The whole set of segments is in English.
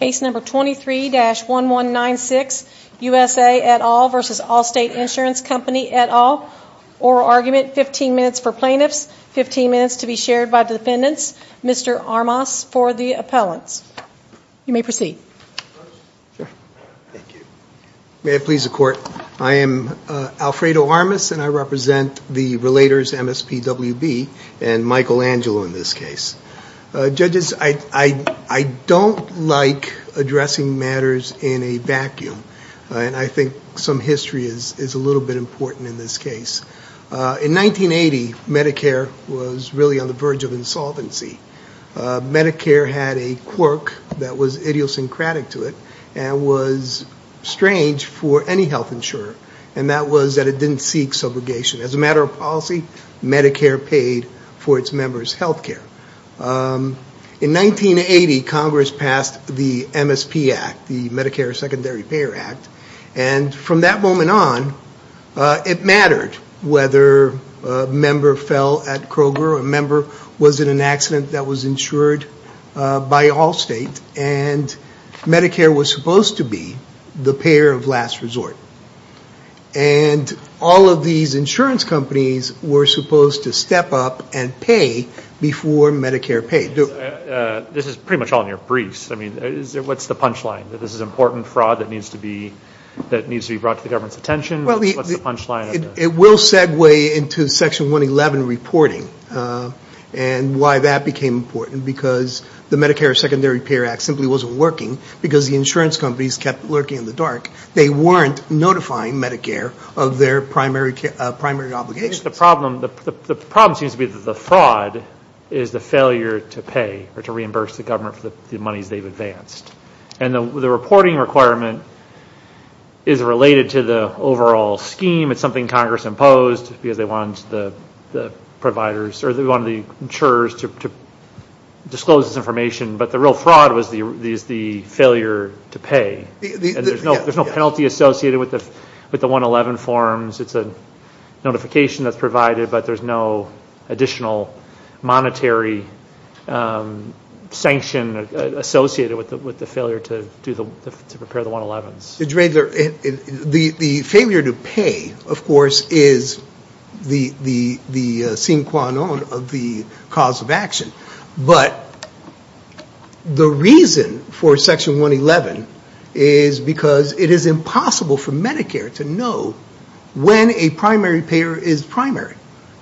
Case number 23-1196, USA et al. v. Allstate Insurance Company et al. Oral argument, 15 minutes for plaintiffs, 15 minutes to be shared by defendants. Mr. Armas for the appellants. You may proceed. May it please the court. I am Alfredo Armas and I represent the Relators MSPWB and Michael Angelo in this case. Judges, I don't like addressing matters in a vacuum. And I think some history is a little bit important in this case. In 1980, Medicare was really on the verge of insolvency. Medicare had a quirk that was idiosyncratic to it and was strange for any health insurer. And that was that it didn't seek subrogation. As a matter of policy, Medicare paid for its members' health care. In 1980, Congress passed the MSP Act, the Medicare Secondary Payer Act. And from that moment on, it mattered whether a member fell at Kroger or a member was in an accident that was insured by Allstate. And Medicare was supposed to be the payer of last resort. And all of these insurance companies were supposed to step up and pay before Medicare paid. This is pretty much all in your briefs. I mean, what's the punchline? That this is important fraud that needs to be brought to the government's attention? What's the punchline? It will segue into Section 111 reporting and why that became important. Because the Medicare Secondary Payer Act simply wasn't working because the insurance companies kept lurking in the dark. They weren't notifying Medicare of their primary obligations. The problem seems to be that the fraud is the failure to pay or to reimburse the government for the monies they've advanced. And the reporting requirement is related to the overall scheme. It's something Congress imposed because they wanted the providers, or they wanted the insurers to disclose this information. But the real fraud is the failure to pay. There's no penalty associated with the 111 forms. It's a notification that's provided, but there's no additional monetary sanction associated with the failure to prepare the 111s. The failure to pay, of course, is the sine qua non of the cause of action. But the reason for Section 111 is because it is impossible for Medicare to know when a primary payer is primary.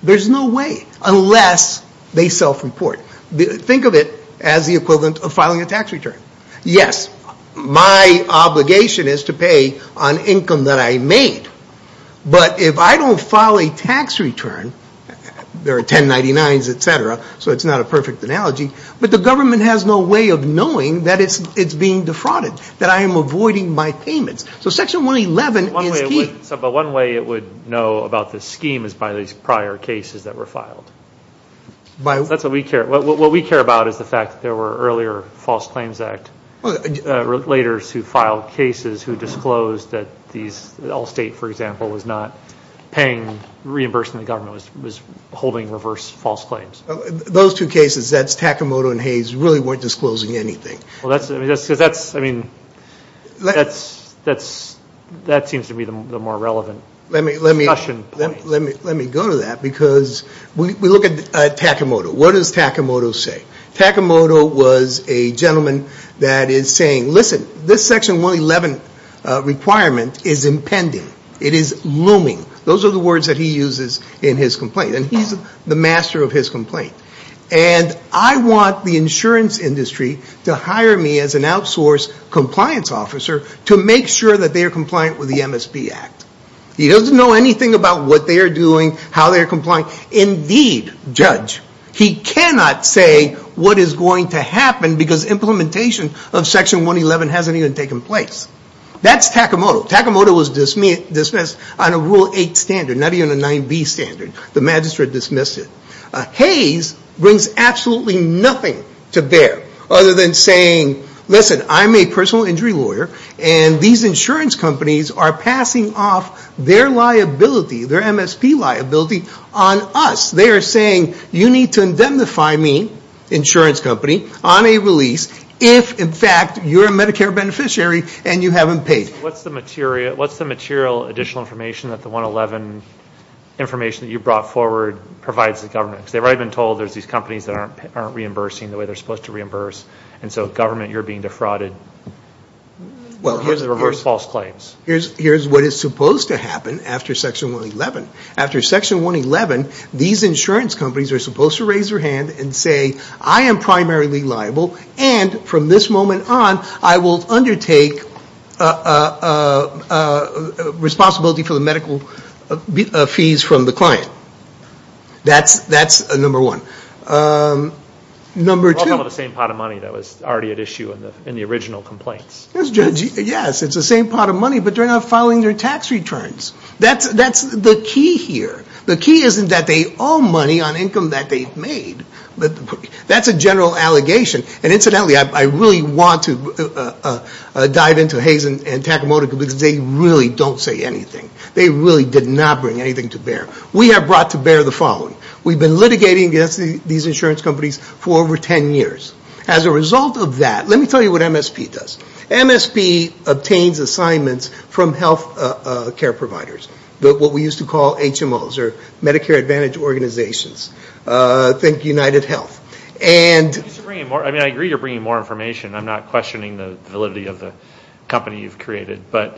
There's no way, unless they self-report. Think of it as the equivalent of filing a tax return. Yes, my obligation is to pay on income that I made. But if I don't file a tax return, there are 1099s, etc., so it's not a perfect analogy. But the government has no way of knowing that it's being defrauded, that I am avoiding my payments. So Section 111 is key. But one way it would know about this scheme is by these prior cases that were filed. That's what we care about, is the fact that there were earlier False Claims Act relators who filed cases who disclosed that Allstate, for example, was not paying, reimbursing the government, was holding reverse false claims. Those two cases, that's Takamoto and Hayes, really weren't disclosing anything. Well, that's, I mean, that seems to be the more relevant discussion point. Let me go to that, because we look at Takamoto. What does Takamoto say? Takamoto was a gentleman that is saying, listen, this Section 111 requirement is impending. It is looming. Those are the words that he uses in his complaint. And he's the master of his complaint. And I want the insurance industry to hire me as an outsource compliance officer to make sure that they are compliant with the MSP Act. He doesn't know anything about what they are doing, how they are complying. Indeed, Judge, he cannot say what is going to happen, because implementation of Section 111 hasn't even taken place. That's Takamoto. Takamoto was dismissed on a Rule 8 standard, not even a 9B standard. The magistrate dismissed it. Hayes brings absolutely nothing to bear, other than saying, listen, I'm a personal injury lawyer, and these insurance companies are passing off their liability, their MSP liability, on us. They are saying, you need to indemnify me, insurance company, on a release, if in fact you're a Medicare beneficiary and you haven't paid. What's the material additional information that the 111 information that you brought forward provides the government? Because they've already been told there's these companies that aren't reimbursing the way they're supposed to reimburse. And so government, you're being defrauded. Well, here's the reverse false claims. Here's what is supposed to happen after Section 111. After Section 111, these insurance companies are supposed to raise their hand and say, I am primarily liable, and from this moment on, I will undertake responsibility for the medical fees from the client. That's number one. Number two. Well, it's all the same pot of money that was already at issue in the original complaints. Yes, it's the same pot of money, but they're not filing their tax returns. That's the key here. The key isn't that they owe money on income that they've made, but that's a general allegation. And incidentally, I really want to dive into Hayes and Takamoto because they really don't say anything. They really did not bring anything to bear. We have brought to bear the following. We've been litigating against these insurance companies for over 10 years. As a result of that, let me tell you what MSP does. MSP obtains assignments from healthcare providers, what we used to call HMOs or Medicare Advantage Organizations. Think UnitedHealth. And... I mean, I agree you're bringing more information. I'm not questioning the validity of the company you've created, or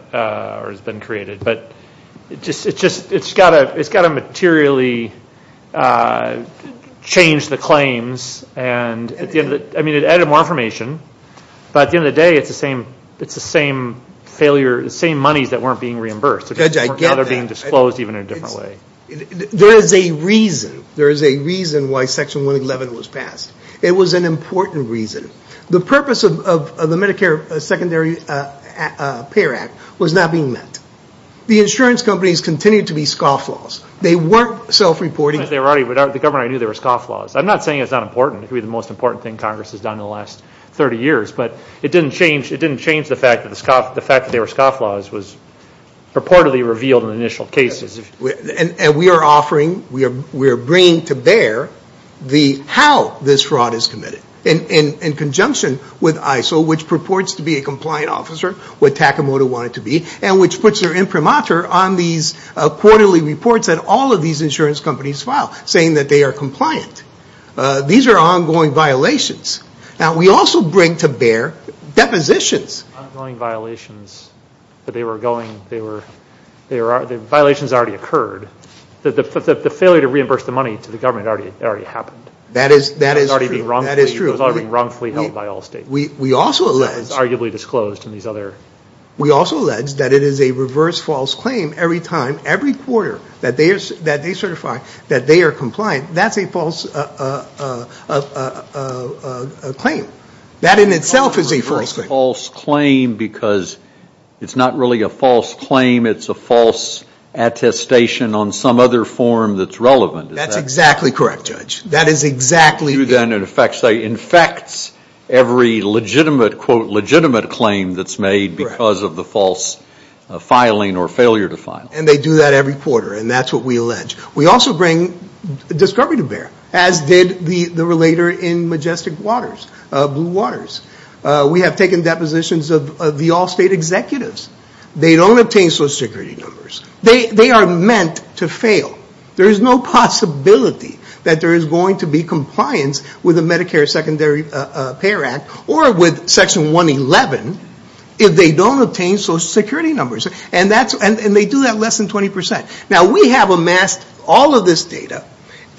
has been created. But it's got to materially change the claims. And I mean, it added more information. But at the end of the day, it's the same money that weren't being reimbursed. Judge, I get that. They're being disclosed even in a different way. There is a reason. There is a reason why Section 111 was passed. It was an important reason. The purpose of the Medicare Secondary Payer Act was not being met. The insurance companies continued to be scofflaws. They weren't self-reporting. The governor knew they were scofflaws. I'm not saying it's not important. It could be the most important thing Congress has done in the last 30 years. But it didn't change the fact that the fact that they were scofflaws was purportedly revealed in the initial cases. And we are offering, we are bringing to bear how this fraud is committed in conjunction with ISO, which purports to be a compliant officer, what Takamoto wanted to be, and which puts their imprimatur on these quarterly reports that all of these insurance companies file saying that they are compliant. These are ongoing violations. Now, we also bring to bear depositions. Ongoing violations, but they were going, they were, violations already occurred. The failure to reimburse the money to the government already happened. That is true. It was already wrongfully held by Allstate. We also allege that it is a reverse false claim every time, every quarter that they certify that they are compliant. That's a false claim. That in itself is a false claim. It's a false claim because it's not really a false claim. It's a false attestation on some other form that's relevant. That's exactly correct, Judge. That is exactly. You then in effect say infects every legitimate, quote, legitimate claim that's made because of the false filing or failure to file. And they do that every quarter, and that's what we allege. We also bring discovery to bear, as did the relator in Majestic Waters, Blue Waters. We have taken depositions of the Allstate executives. They don't obtain Social Security numbers. They are meant to fail. There is no possibility that there is going to be compliance with the Medicare Secondary Payer Act or with Section 111 if they don't obtain Social Security numbers, and they do that less than 20%. Now, we have amassed all of this data,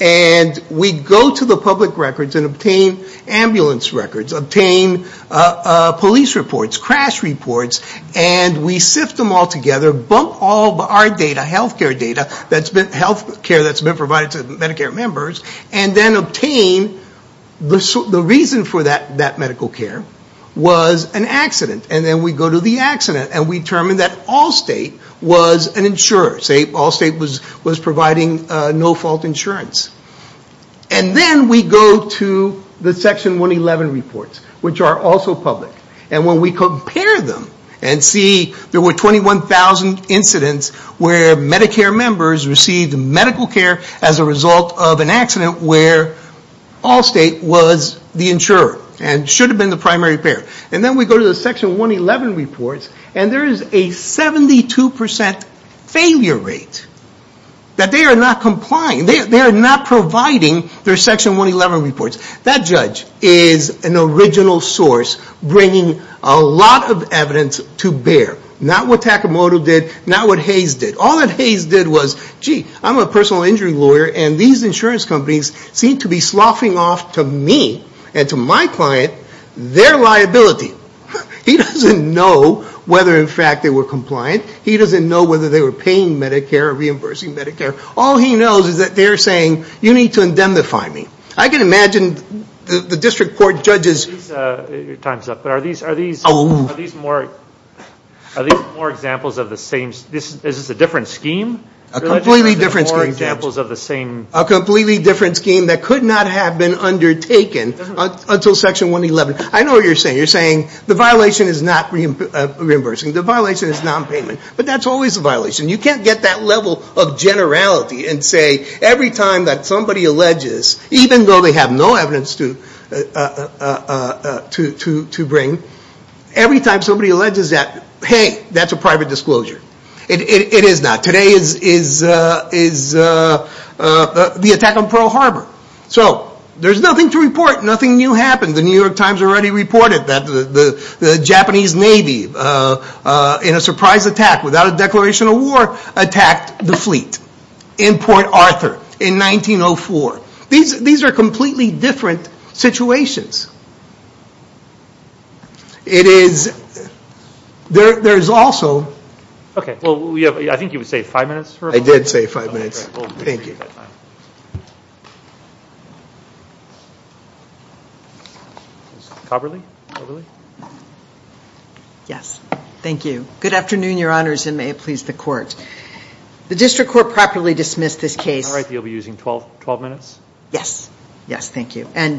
and we go to the public records and obtain ambulance records, obtain police reports, crash reports, and we sift them all together, bump all of our data, health care data, health care that's been provided to Medicare members, and then obtain the reason for that medical care was an accident. And then we go to the accident, and we determine that Allstate was an insurer. Allstate was providing no-fault insurance. And then we go to the Section 111 reports, which are also public. And when we compare them and see there were 21,000 incidents where Medicare members received medical care as a result of an accident where Allstate was the insurer and should have been the primary payer. And then we go to the Section 111 reports, and there is a 72% failure rate that they are not complying. They are not providing their Section 111 reports. That judge is an original source bringing a lot of evidence to bear. Not what Takamoto did, not what Hayes did. All that Hayes did was, gee, I'm a personal injury lawyer, and these insurance companies seem to be sloughing off to me and to my client their liability. He doesn't know whether, in fact, they were compliant. He doesn't know whether they were paying Medicare or reimbursing Medicare. All he knows is that they are saying, you need to indemnify me. I can imagine the district court judges... Your time is up, but are these more examples of the same... Is this a different scheme? A completely different scheme. A completely different scheme that could not have been undertaken until Section 111. I know what you're saying. You're saying the violation is not reimbursing. The violation is non-payment. But that's always a violation. You can't get that level of generality and say, every time that somebody alleges, even though they have no evidence to bring, every time somebody alleges that, hey, that's a private disclosure. It is not. Today is the attack on Pearl Harbor. So there's nothing to report. Nothing new happened. The New York Times already reported that the Japanese Navy, in a surprise attack, without a declaration of war, attacked the fleet in Port Arthur in 1904. These are completely different situations. It is... There's also... Okay. I think you would say five minutes for... I did say five minutes. Thank you. Thank you very much. Yes. Thank you. Good afternoon, Your Honors, and may it please the Court. The District Court properly dismissed this case... All right. You'll be using 12 minutes? Yes. Yes. Thank you. And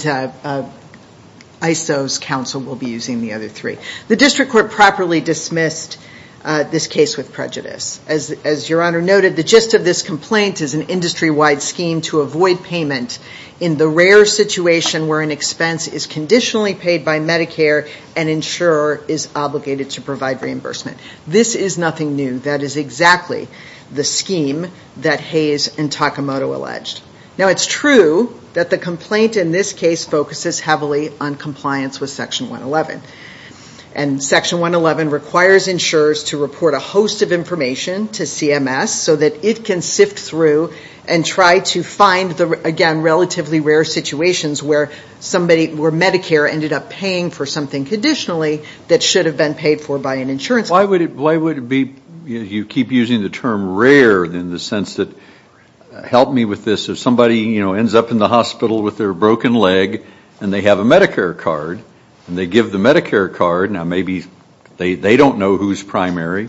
ISO's counsel will be using the other three. The District Court properly dismissed this case with prejudice. As Your Honor noted, the gist of this complaint is an industry-wide scheme to avoid payment in the rare situation where an expense is conditionally paid by Medicare and insurer is obligated to provide reimbursement. This is nothing new. That is exactly the scheme that Hayes and Takamoto alleged. Now, it's true that the complaint in this case focuses heavily on compliance with Section 111. And Section 111 requires insurers to report a host of cases and try to find, again, relatively rare situations where Medicare ended up paying for something conditionally that should have been paid for by an insurer. Why would it be... You keep using the term rare in the sense that... Help me with this. If somebody, you know, ends up in the hospital with their broken leg and they have a Medicare card and they give the Medicare card, now maybe they don't know who's primary,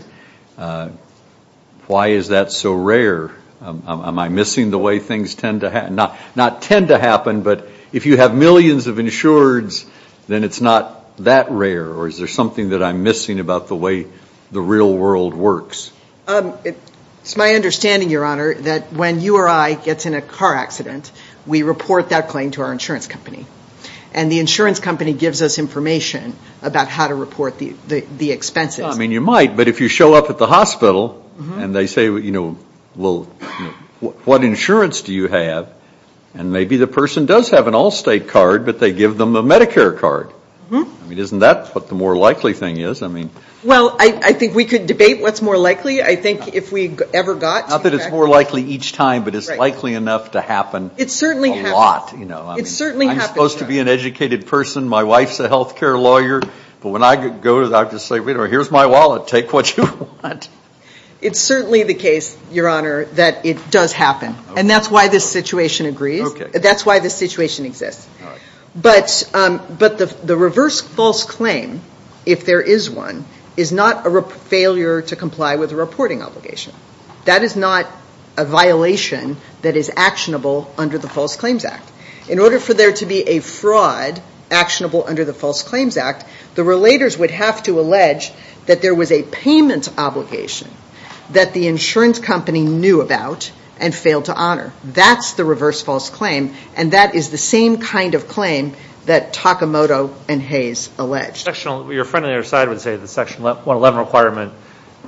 why is that so rare? Am I missing the way things tend to happen? Not tend to happen, but if you have millions of insurers, then it's not that rare, or is there something that I'm missing about the way the real world works? It's my understanding, Your Honor, that when you or I gets in a car accident, we report that claim to our insurance company. And the insurance company gives us information about how to report the expenses. I mean, you might, but if you show up at the hospital and they say, you know, well, what insurance do you have? And maybe the person does have an Allstate card, but they give them a Medicare card. I mean, isn't that what the more likely thing is? I mean... Well, I think we could debate what's more likely. I think if we ever got to... Not that it's more likely each time, but it's likely enough to happen a lot. I'm supposed to be an educated person. My wife's a health care lawyer. But when I go to the doctor and say, here's my wallet, take what you want. It's certainly the case, Your Honor, that it does happen. And that's why this situation agrees. That's why this situation exists. But the reverse false claim, if there is one, is not a failure to comply with a reporting obligation. That is not a violation that is actionable under the False Claims Act. In order for there to be a fraud actionable under the False Claims Act, the relators would have to allege that there was a payment obligation that the insurance company knew about and failed to honor. That's the reverse false claim. And that is the same kind of claim that Takamoto and Hayes alleged. Your friend on the other side would say the Section 111 requirement,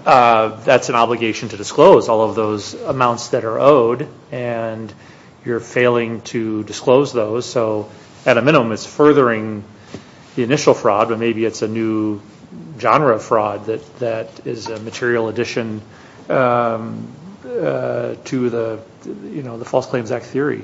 that's an obligation to disclose all of those amounts that are owed. And you're failing to disclose those. So, at a minimum, it's furthering the initial fraud. But maybe it's a new genre of fraud that is a material addition to the False Claims Act theory.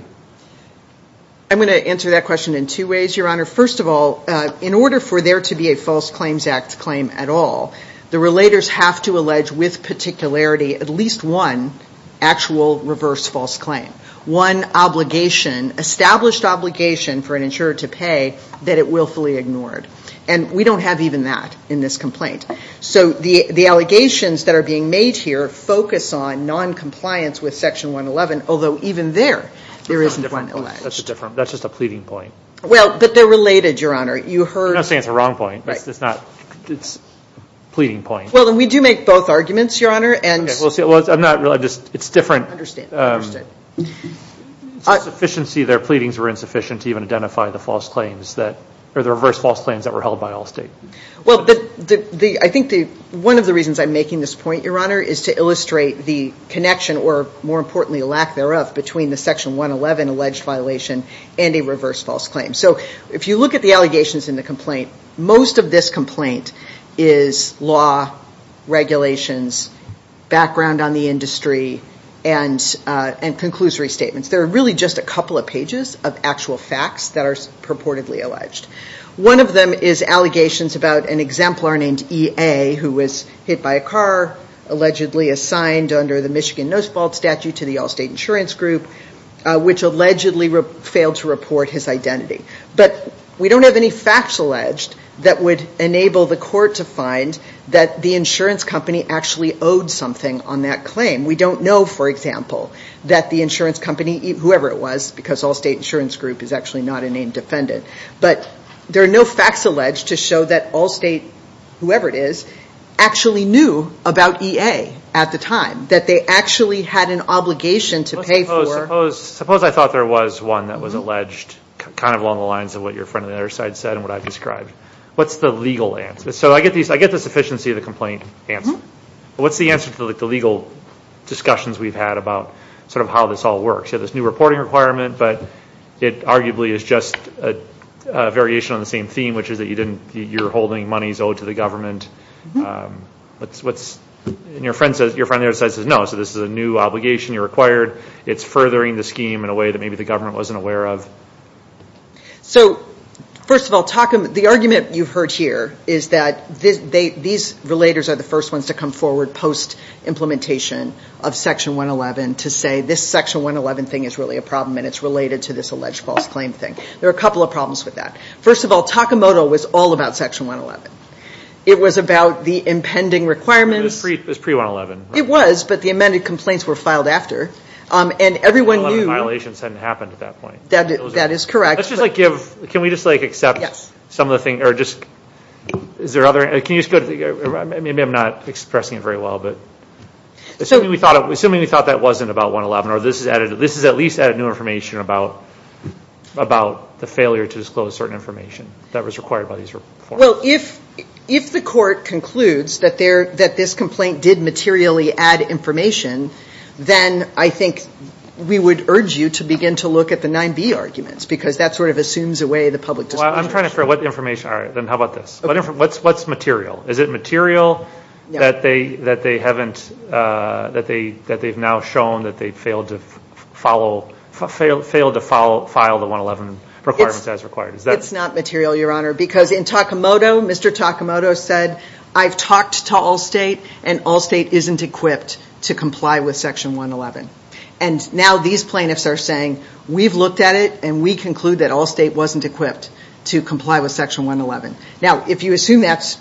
I'm going to answer that question in two ways, Your Honor. First of all, in order for there to be a False Claims Act claim at all, the relators have to allege with particularity at least one actual reverse false claim. One obligation, established obligation for an insurer to pay that it willfully ignored. And we don't have even that in this complaint. So, the allegations that are being made here focus on noncompliance with Section 111, although even there, there isn't one alleged. That's a different, that's just a pleading point. Well, but they're related, Your Honor. You heard. I'm not saying it's a wrong point. It's not, it's a pleading point. Well, and we do make both arguments, Your Honor. And. Well, see, I'm not, it's different. I understand. It's a sufficiency, their pleadings were insufficient to even identify the false claims that, or the reverse false claims that were held by Allstate. Well, the, the, I think the, one of the reasons I'm making this point, Your Honor, is to illustrate the connection or more importantly, lack thereof between the Section 111 alleged violation and a reverse false claim. So, if you look at the allegations in the complaint, most of this complaint is law, regulations, background on the industry, and, and conclusory statements. There are really just a couple of pages of actual facts that are purportedly alleged. One of them is allegations about an exemplar named E. A., who was hit by a car, allegedly assigned under the Michigan Nose Vault statute to the Allstate Insurance Group, which allegedly failed to report his identity. But we don't have any facts alleged that would enable the court to find that the insurance company actually owed something on that claim. We don't know, for example, that the insurance company, whoever it was, because Allstate Insurance Group is actually not a named defendant, but there are no facts alleged to show that Allstate, whoever it is, actually knew about E. A. at the time, that they actually had an obligation to pay for. Suppose, suppose, suppose I thought there was one that was alleged, kind of along the lines of what your friend on the other side said and what I've described. What's the legal answer? So I get these, I get the sufficiency of the complaint answer. What's the answer to the legal discussions we've had about sort of how this all works? You have this new reporting requirement, but it arguably is just a variation on the same theme, which is that you didn't, you're holding monies owed to the government. What's, and your friend says, your friend on the other side says, no, so this is a new obligation, you're required, it's furthering the scheme in a way that maybe the government wasn't aware of. So, first of all, talk, the argument you've heard here is that they, these relators are the first ones to come forward post-implementation of Section 111 to say this Section 111 thing is really a problem and it's related to this alleged false claim thing. There are a couple of problems with that. First of all, Takamoto was all about Section 111. It was about the impending requirements. It was pre-111. It was, but the amended complaints were filed after. And everyone knew. 111 violations hadn't happened at that point. That is correct. Let's just like give, can we just like accept some of the things, or just, is there other, can you just go to the, maybe I'm not expressing it very well, but. Assuming we thought, assuming we thought that wasn't about 111 or this is added, this is at least added new information about, about the failure to disclose certain information that was required by these reforms. Well, if, if the court concludes that there, that this complaint did materially add information, then I think we would urge you to begin to look at the 9B arguments because that sort of assumes away the public discussion. I'm trying to figure out what information, alright, then how about this? What's material? Is it material that they, that they haven't, that they, that they've now shown that they failed to follow, failed to file the 111 requirements as required? It's not material, Your Honor, because in Takamoto, Mr. Takamoto said, I've talked to Allstate and Allstate isn't equipped to comply with Section 111. And now these plaintiffs are saying, we've looked at it and we conclude that Allstate wasn't equipped. To comply with Section 111. Now, if you assume that's,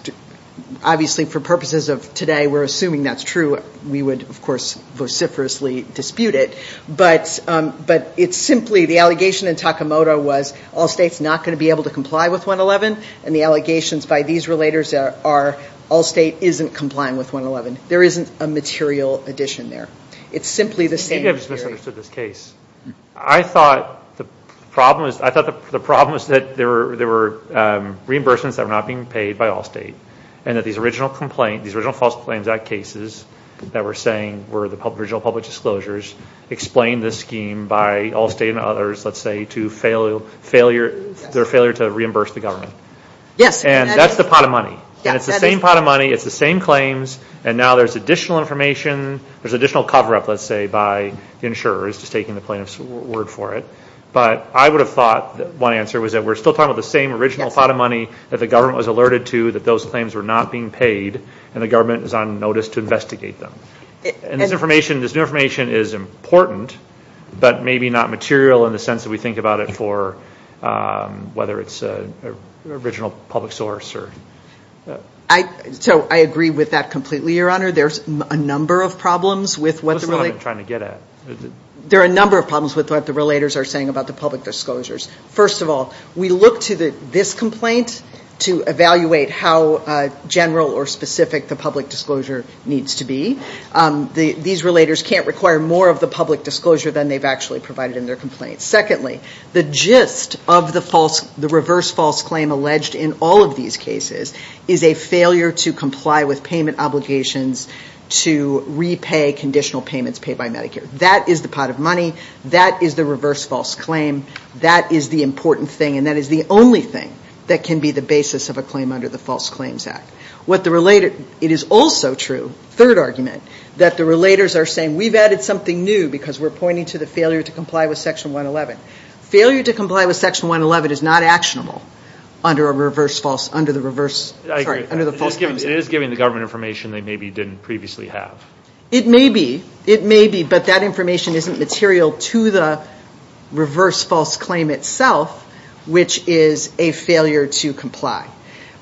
obviously for purposes of today, we're assuming that's true. We would, of course, vociferously dispute it. But, but it's simply, the allegation in Takamoto was Allstate's not going to be able to comply with 111. And the allegations by these relators are, Allstate isn't complying with 111. There isn't a material addition there. It's simply the same theory. Maybe I just misunderstood this case. I thought the problem was, I thought the problem was that there were, there were reimbursements that were not being paid by Allstate. And that these original complaint, these original False Claims Act cases that we're saying were the original public disclosures, explained this scheme by Allstate and others, let's say, to failure, failure, their failure to reimburse the government. Yes. And that's the pot of money. And it's the same pot of money. It's the same claims. And now there's additional information. There's additional cover-up, let's say, by insurers just taking the plaintiff's word for it. But I would have thought that one answer was that we're still talking about the same original pot of money that the government was alerted to, that those claims were not being paid. And the government is on notice to investigate them. And this information, this new information is important, but maybe not material in the sense that we think about it for whether it's an original public source or... I, so I agree with that completely, Your Honor. There's a number of problems with what the relate... There are a number of problems with what the relators are saying about the public disclosures. First of all, we look to this complaint to evaluate how general or specific the public disclosure needs to be. These relators can't require more of the public disclosure than they've actually provided in their complaint. Secondly, the gist of the reverse false claim alleged in all of these cases is a failure to comply with payment obligations to repay conditional payments paid by Medicare. That is the pot of money. That is the reverse false claim. That is the important thing. And that is the only thing that can be the basis of a claim under the False Claims Act. What the relate... It is also true, third argument, that the relators are saying, we've added something new because we're pointing to the failure to comply with Section 111. Failure to comply with Section 111 is not actionable under a reverse false... under the reverse... Sorry, under the false claims... It is giving the government information they maybe didn't previously have. It may be. It may be, but that information isn't material to the reverse false claim itself, which is a failure to comply.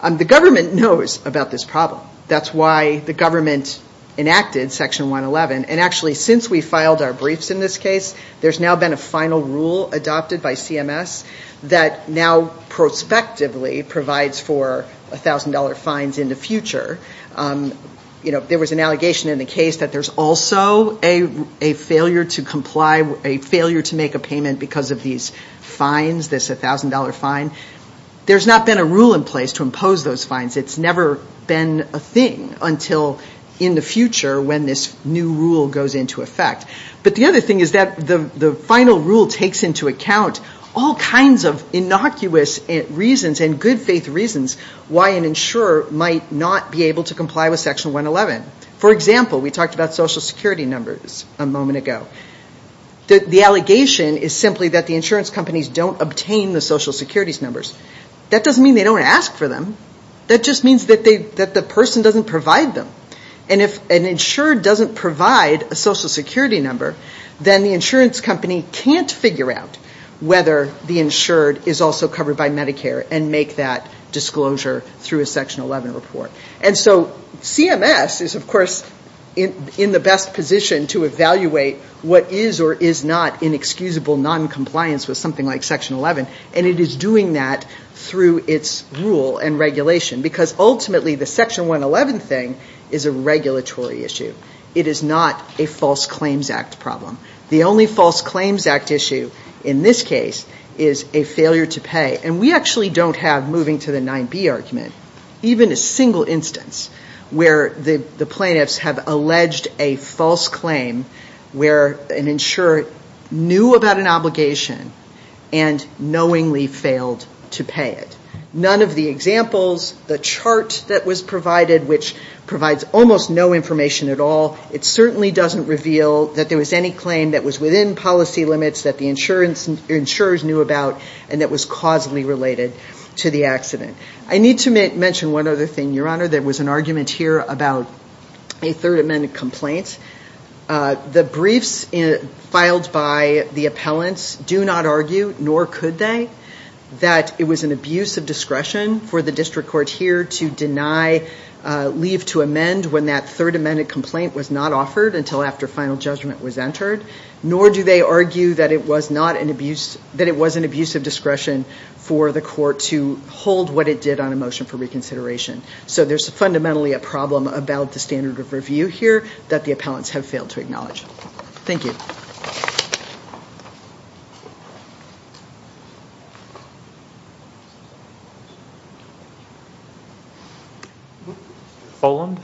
The government knows about this problem. That's why the government enacted Section 111. And actually, since we filed our briefs in this case, there's now been a final rule adopted by CMS that now prospectively provides for $1,000 fines in the future. There was an allegation in the case that there's also a failure to comply... a failure to make a payment because of these fines, this $1,000 fine. There's not been a rule in place to impose those fines. It's never been a thing until in the future when this new rule goes into effect. But the other thing is that the final rule takes into account all kinds of innocuous reasons and good faith reasons why an insurer might not be able to comply with Section 111. For example, we talked about social security numbers a moment ago. The allegation is simply that the insurance companies don't obtain the social securities numbers. That doesn't mean they don't ask for them. That just means that the person doesn't provide them. And if an insured doesn't provide a social security number, then the insurance company can't figure out whether the insured is also covered by Medicare and make that disclosure through a Section 11 report. And so CMS is, of course, in the best position to evaluate what is or is not inexcusable noncompliance with something like Section 11. And it is doing that through its rule and regulation because ultimately the Section 111 thing is a regulatory issue. It is not a False Claims Act problem. The only False Claims Act issue in this case is a failure to pay. And we actually don't have, moving to the 9B argument, even a single instance where the plaintiffs have alleged a false claim where an insurer knew about an obligation and knowingly failed to pay it. None of the examples, the chart that was provided, which provides almost no information at all, it certainly doesn't reveal that there was any claim that was within policy limits that the insurers knew about and that was causally related to the accident. I need to mention one other thing, Your Honor. There was an argument here about a Third Amendment complaint. The briefs filed by the appellants do not argue, nor could they, that it was an abuse of discretion for the District Court here to deny leave to amend when that Third Amendment complaint was not offered until after final judgment was entered. Nor do they argue that it was not an abuse, that it was an abuse of discretion for the court to hold what it did on a motion for reconsideration. So there's fundamentally a problem about the standard of review here that the appellants have failed to acknowledge. Thank you. Folland?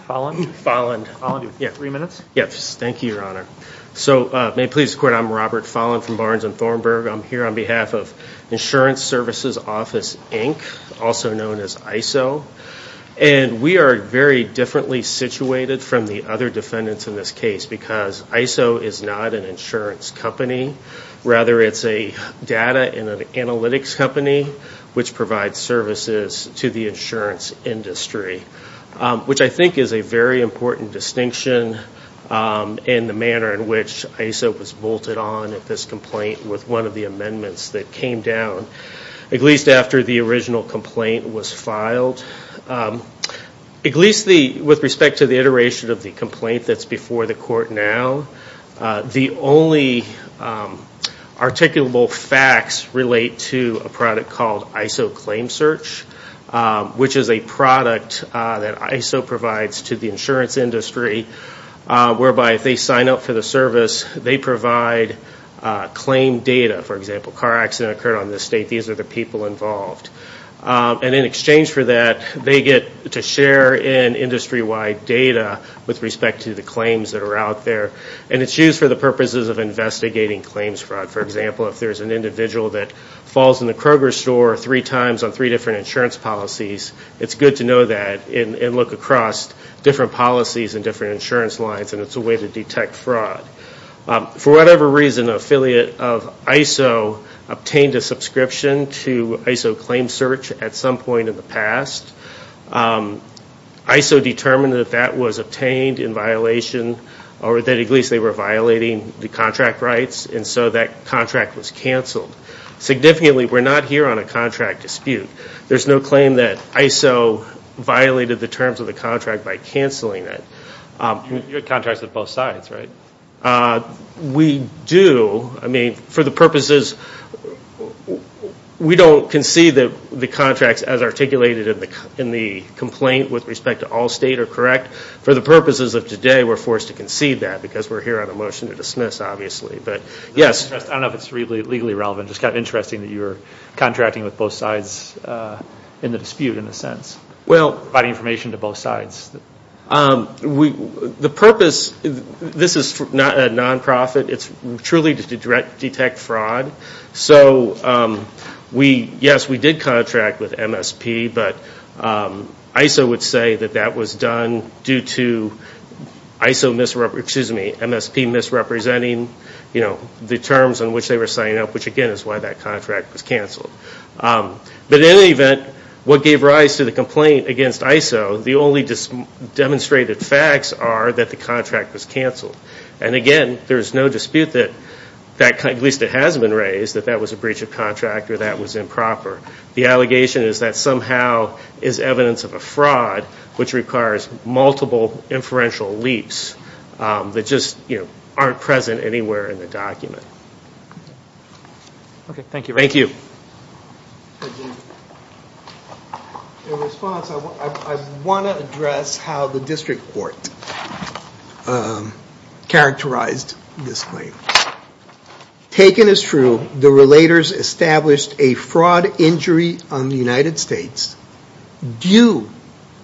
Folland. Yeah. Three minutes? Yes. Thank you, Your Honor. So may it please the Court, I'm Robert Folland from Barnes and Thornburg. I'm here on behalf of Insurance Services Office, Inc., also known as ISO. And we are very differently situated from the other defendants in this case because ISO is not an insurance company. Rather, it's a data and an analytics company which provides services to the insurance industry, which I think is a very important distinction in the manner in which ISO was bolted on at this complaint with one of the amendments that came down, at least after the original complaint was filed. At least with respect to the iteration of the complaint that's before the court now, the only articulable facts relate to a product called ISO Claim Search, which is a product that ISO provides to the insurance industry whereby if they sign up for the service, they provide claim data. For example, a car accident occurred on this state, these are the people involved. And in exchange for that, they get to share in industry-wide data with respect to the claims that are out there. And it's used for the purposes of investigating claims fraud. For example, if there's an individual that falls in the Kroger store three times on three different insurance policies, it's good to know that and look across different policies and different insurance lines and it's a way to detect fraud. For whatever reason, an affiliate of ISO obtained a subscription to ISO Claim Search at some point in the past. ISO determined that that was obtained in violation or that at least they were violating the contract rights and so that contract was canceled. Significantly, we're not here on a contract dispute. There's no claim that ISO violated the terms of the contract by canceling it. You have contracts with both sides, right? We do. I mean, for the purposes, we don't concede that the contracts as articulated in the complaint with respect to all state are correct. For the purposes of today, we're forced to concede that because we're here on a motion to dismiss, obviously. But, yes. I don't know if it's legally relevant. It's just kind of interesting that you're contracting with both sides in the dispute, in a sense. Providing information to both sides. The purpose, this is not a non-profit. It's truly to detect fraud. So, yes, we did contract with MSP, but ISO would say that that was done due to MSP misrepresenting the terms on which they were signing up, which again is why that contract was canceled. But in any event, what gave rise to the complaint against ISO, the only demonstrated facts are that the contract was canceled. And again, there's no dispute that, at least it has been raised, that that was a breach of contract or that was improper. The allegation is that somehow is evidence of a fraud, which requires multiple inferential leaps that just, you know, aren't present anywhere in the document. Okay, thank you. Thank you. In response, I want to address how the District Court characterized this claim. Taken as true, the relators established a fraud injury on the United States due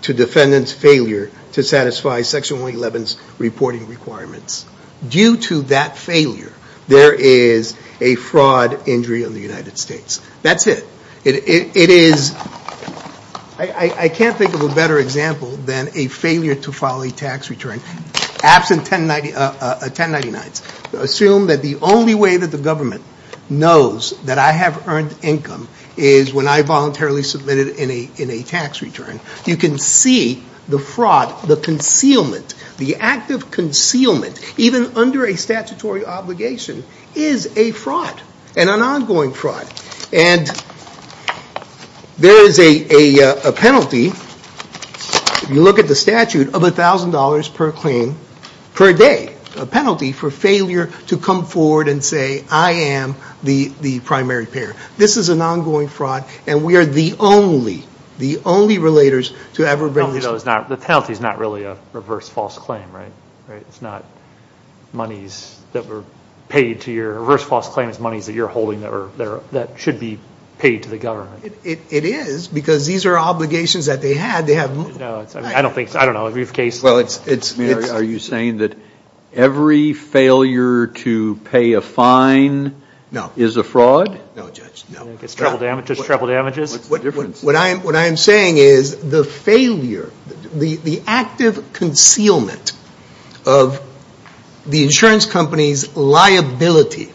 to defendant's failure to satisfy Section 111's reporting requirements. Due to that failure, there is a fraud injury on the United States. That's it. It is, I can't think of a better example than a failure to file a tax return. Absent 1099's. Assume that the only way that the government knows that I have earned income is when I voluntarily submitted in a tax return. You can see the fraud, the concealment, the act of concealment, even under a statutory obligation, is a fraud and an ongoing fraud. And there is a penalty, if you look at the statute, of $1,000 per claim per day. A penalty for failure to come forward and say I am the primary payer. This is an ongoing fraud and we are the only, the only relators to ever bring this. The penalty is not really a reverse false claim, right? Right? It's not monies that were paid to your reverse false claim, it's monies that you are holding that should be paid to the government. It is, because these are obligations that they had. No, I don't think, I don't know, briefcase. Are you saying that every failure to pay a fine is a fraud? No, Judge, no. It's trouble damages, trouble damages. What I am saying is the failure, the active concealment of the insurance company's liability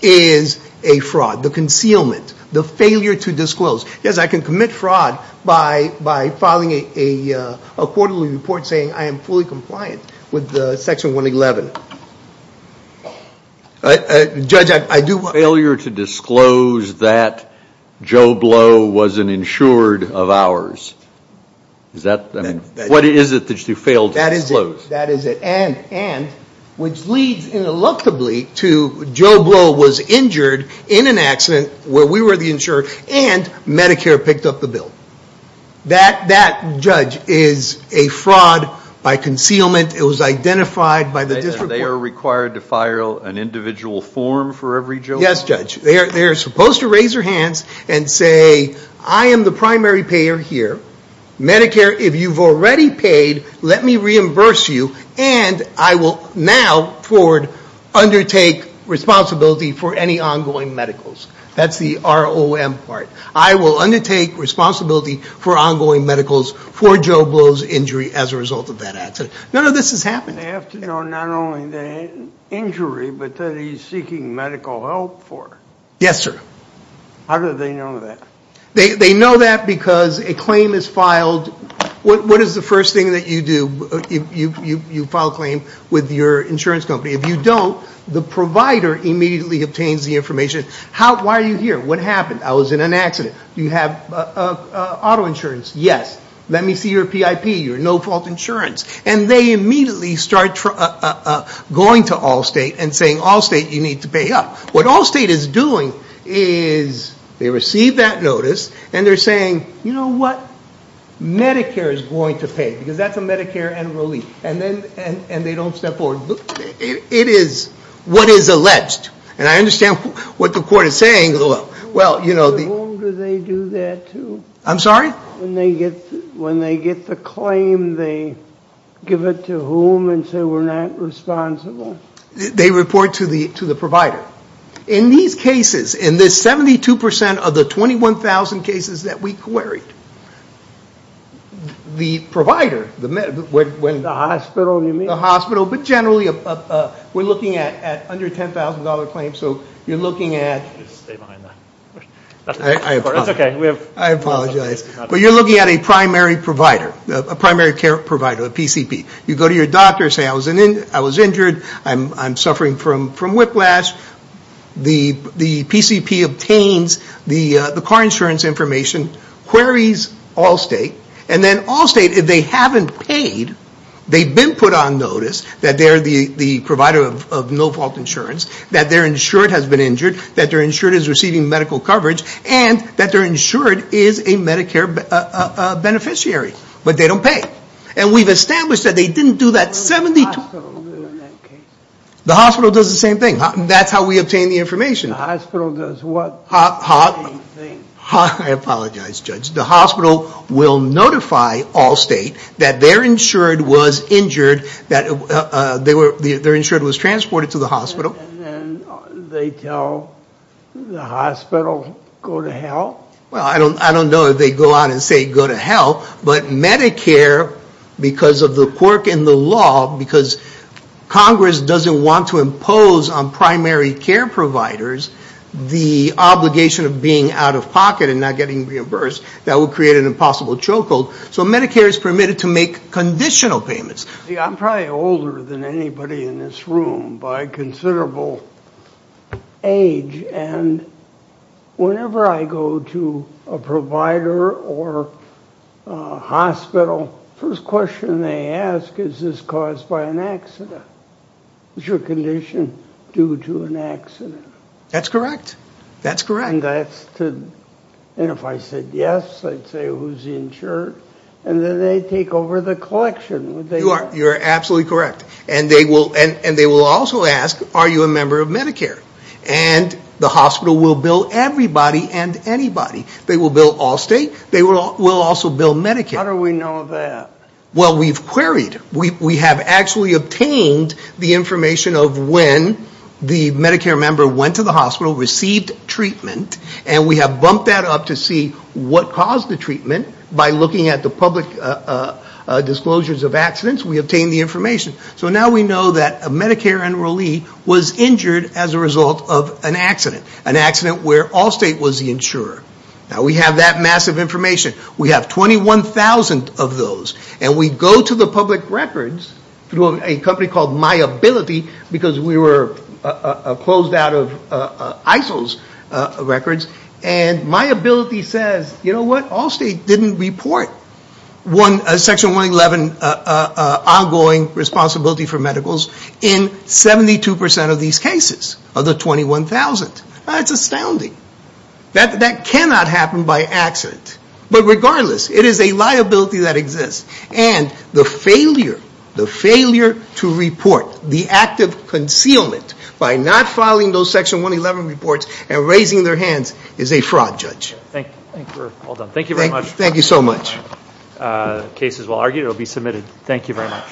is a fraud. The concealment, the failure to disclose. Yes, I can commit fraud by filing a quarterly report saying I am fully compliant with Section 111. Judge, I do want... Failure to disclose that Joe Blow wasn't insured of ours. Is that, I mean, what is it that you failed to disclose? That is it. And, which leads, ineluctably, to Joe Blow was injured in an accident where we were the insurer and Medicare picked up the bill. That, Judge, is a fraud by concealment. It was identified by the district court. They are required to file an individual form for every Joe Blow? Yes, Judge. They are supposed to raise their hands and say I am the primary payer here. Medicare, if you have already paid, let me reimburse you and I will now, forward, undertake responsibility for any ongoing medicals. That is the ROM part. I will undertake responsibility for ongoing medicals for Joe Blow's injury as a result of that accident. None of this has happened. They have to know not only the injury but that he is seeking medical help for. Yes, sir. How do they know that? They know that because a claim is filed. What is the first thing that you do? You file a claim with your insurance company. If you don't, the provider immediately obtains the information. Why are you here? What happened? I was in an accident. Do you have auto insurance? Yes. Let me see your PIP, your no-fault insurance. And they immediately start going to Allstate and saying Allstate, you need to pay up. What Allstate is doing is they receive that notice and they are saying, you know what? Medicare is going to pay because that is a Medicare and relief. And they don't step forward. It is what is alleged. And I understand what the court is saying. To whom do they do that to? I'm sorry? When they get the claim, they give it to whom and say we are not responsible? They report to the provider. In these cases, in the 72% of the 21,000 cases that we queried, the provider, The hospital you mean? The hospital, but generally we are looking at under $10,000 claims. So you are looking at... Stay behind that. I apologize. That's okay. I apologize. But you are looking at a primary provider, a primary care provider, a PCP. You go to your doctor and say I was injured, I'm suffering from whiplash. The PCP obtains the car insurance information, queries Allstate, and then Allstate, if they haven't paid, they've been put on notice that they are the provider of no-fault insurance, that their insured has been injured, that their insured is receiving medical coverage, and that their insured is a Medicare beneficiary. But they don't pay. And we've established that they didn't do that 72... What does the hospital do in that case? The hospital does the same thing. That's how we obtain the information. The hospital does what? I apologize, Judge. The hospital will notify Allstate that their insured was injured, that their insured was transported to the hospital. And then they tell the hospital go to hell? Well, I don't know if they go out and say go to hell, but Medicare, because of the quirk in the law, because Congress doesn't want to impose on primary care providers the obligation of being out-of-pocket and not getting reimbursed, that would create an impossible chokehold. So Medicare is permitted to make conditional payments. I'm probably older than anybody in this room by considerable age. And whenever I go to a provider or a hospital, first question they ask is, is this caused by an accident? Is your condition due to an accident? That's correct. That's correct. And that's to... And if I said yes, I'd say who's insured. And then they take over the collection. You are absolutely correct. And they will also ask, are you a member of Medicare? And the hospital will bill everybody and anybody. They will bill Allstate. They will also bill Medicare. How do we know that? Well, we've queried. We have actually obtained the information of when the Medicare member went to the hospital, received treatment, and we have bumped that up to see what caused the treatment. By looking at the public disclosures of accidents, we obtain the information. So now we know that a Medicare enrollee was injured as a result of an accident, an accident where Allstate was the insurer. Now we have that massive information. We have 21,000 of those. And we go to the public records through a company called MyAbility because we were closed out of ISIL's records. And MyAbility says, you know what? Allstate didn't report Section 111 ongoing responsibility for medicals in 72% of these cases of the 21,000. That's astounding. That cannot happen by accident. But regardless, it is a liability that exists. And the failure, the failure to report the act of concealment by not filing those Section 111 reports and raising their hands is a fraud, Judge. Thank you. We're all done. Thank you very much. Thank you so much. The case is well argued. It will be submitted. Thank you very much.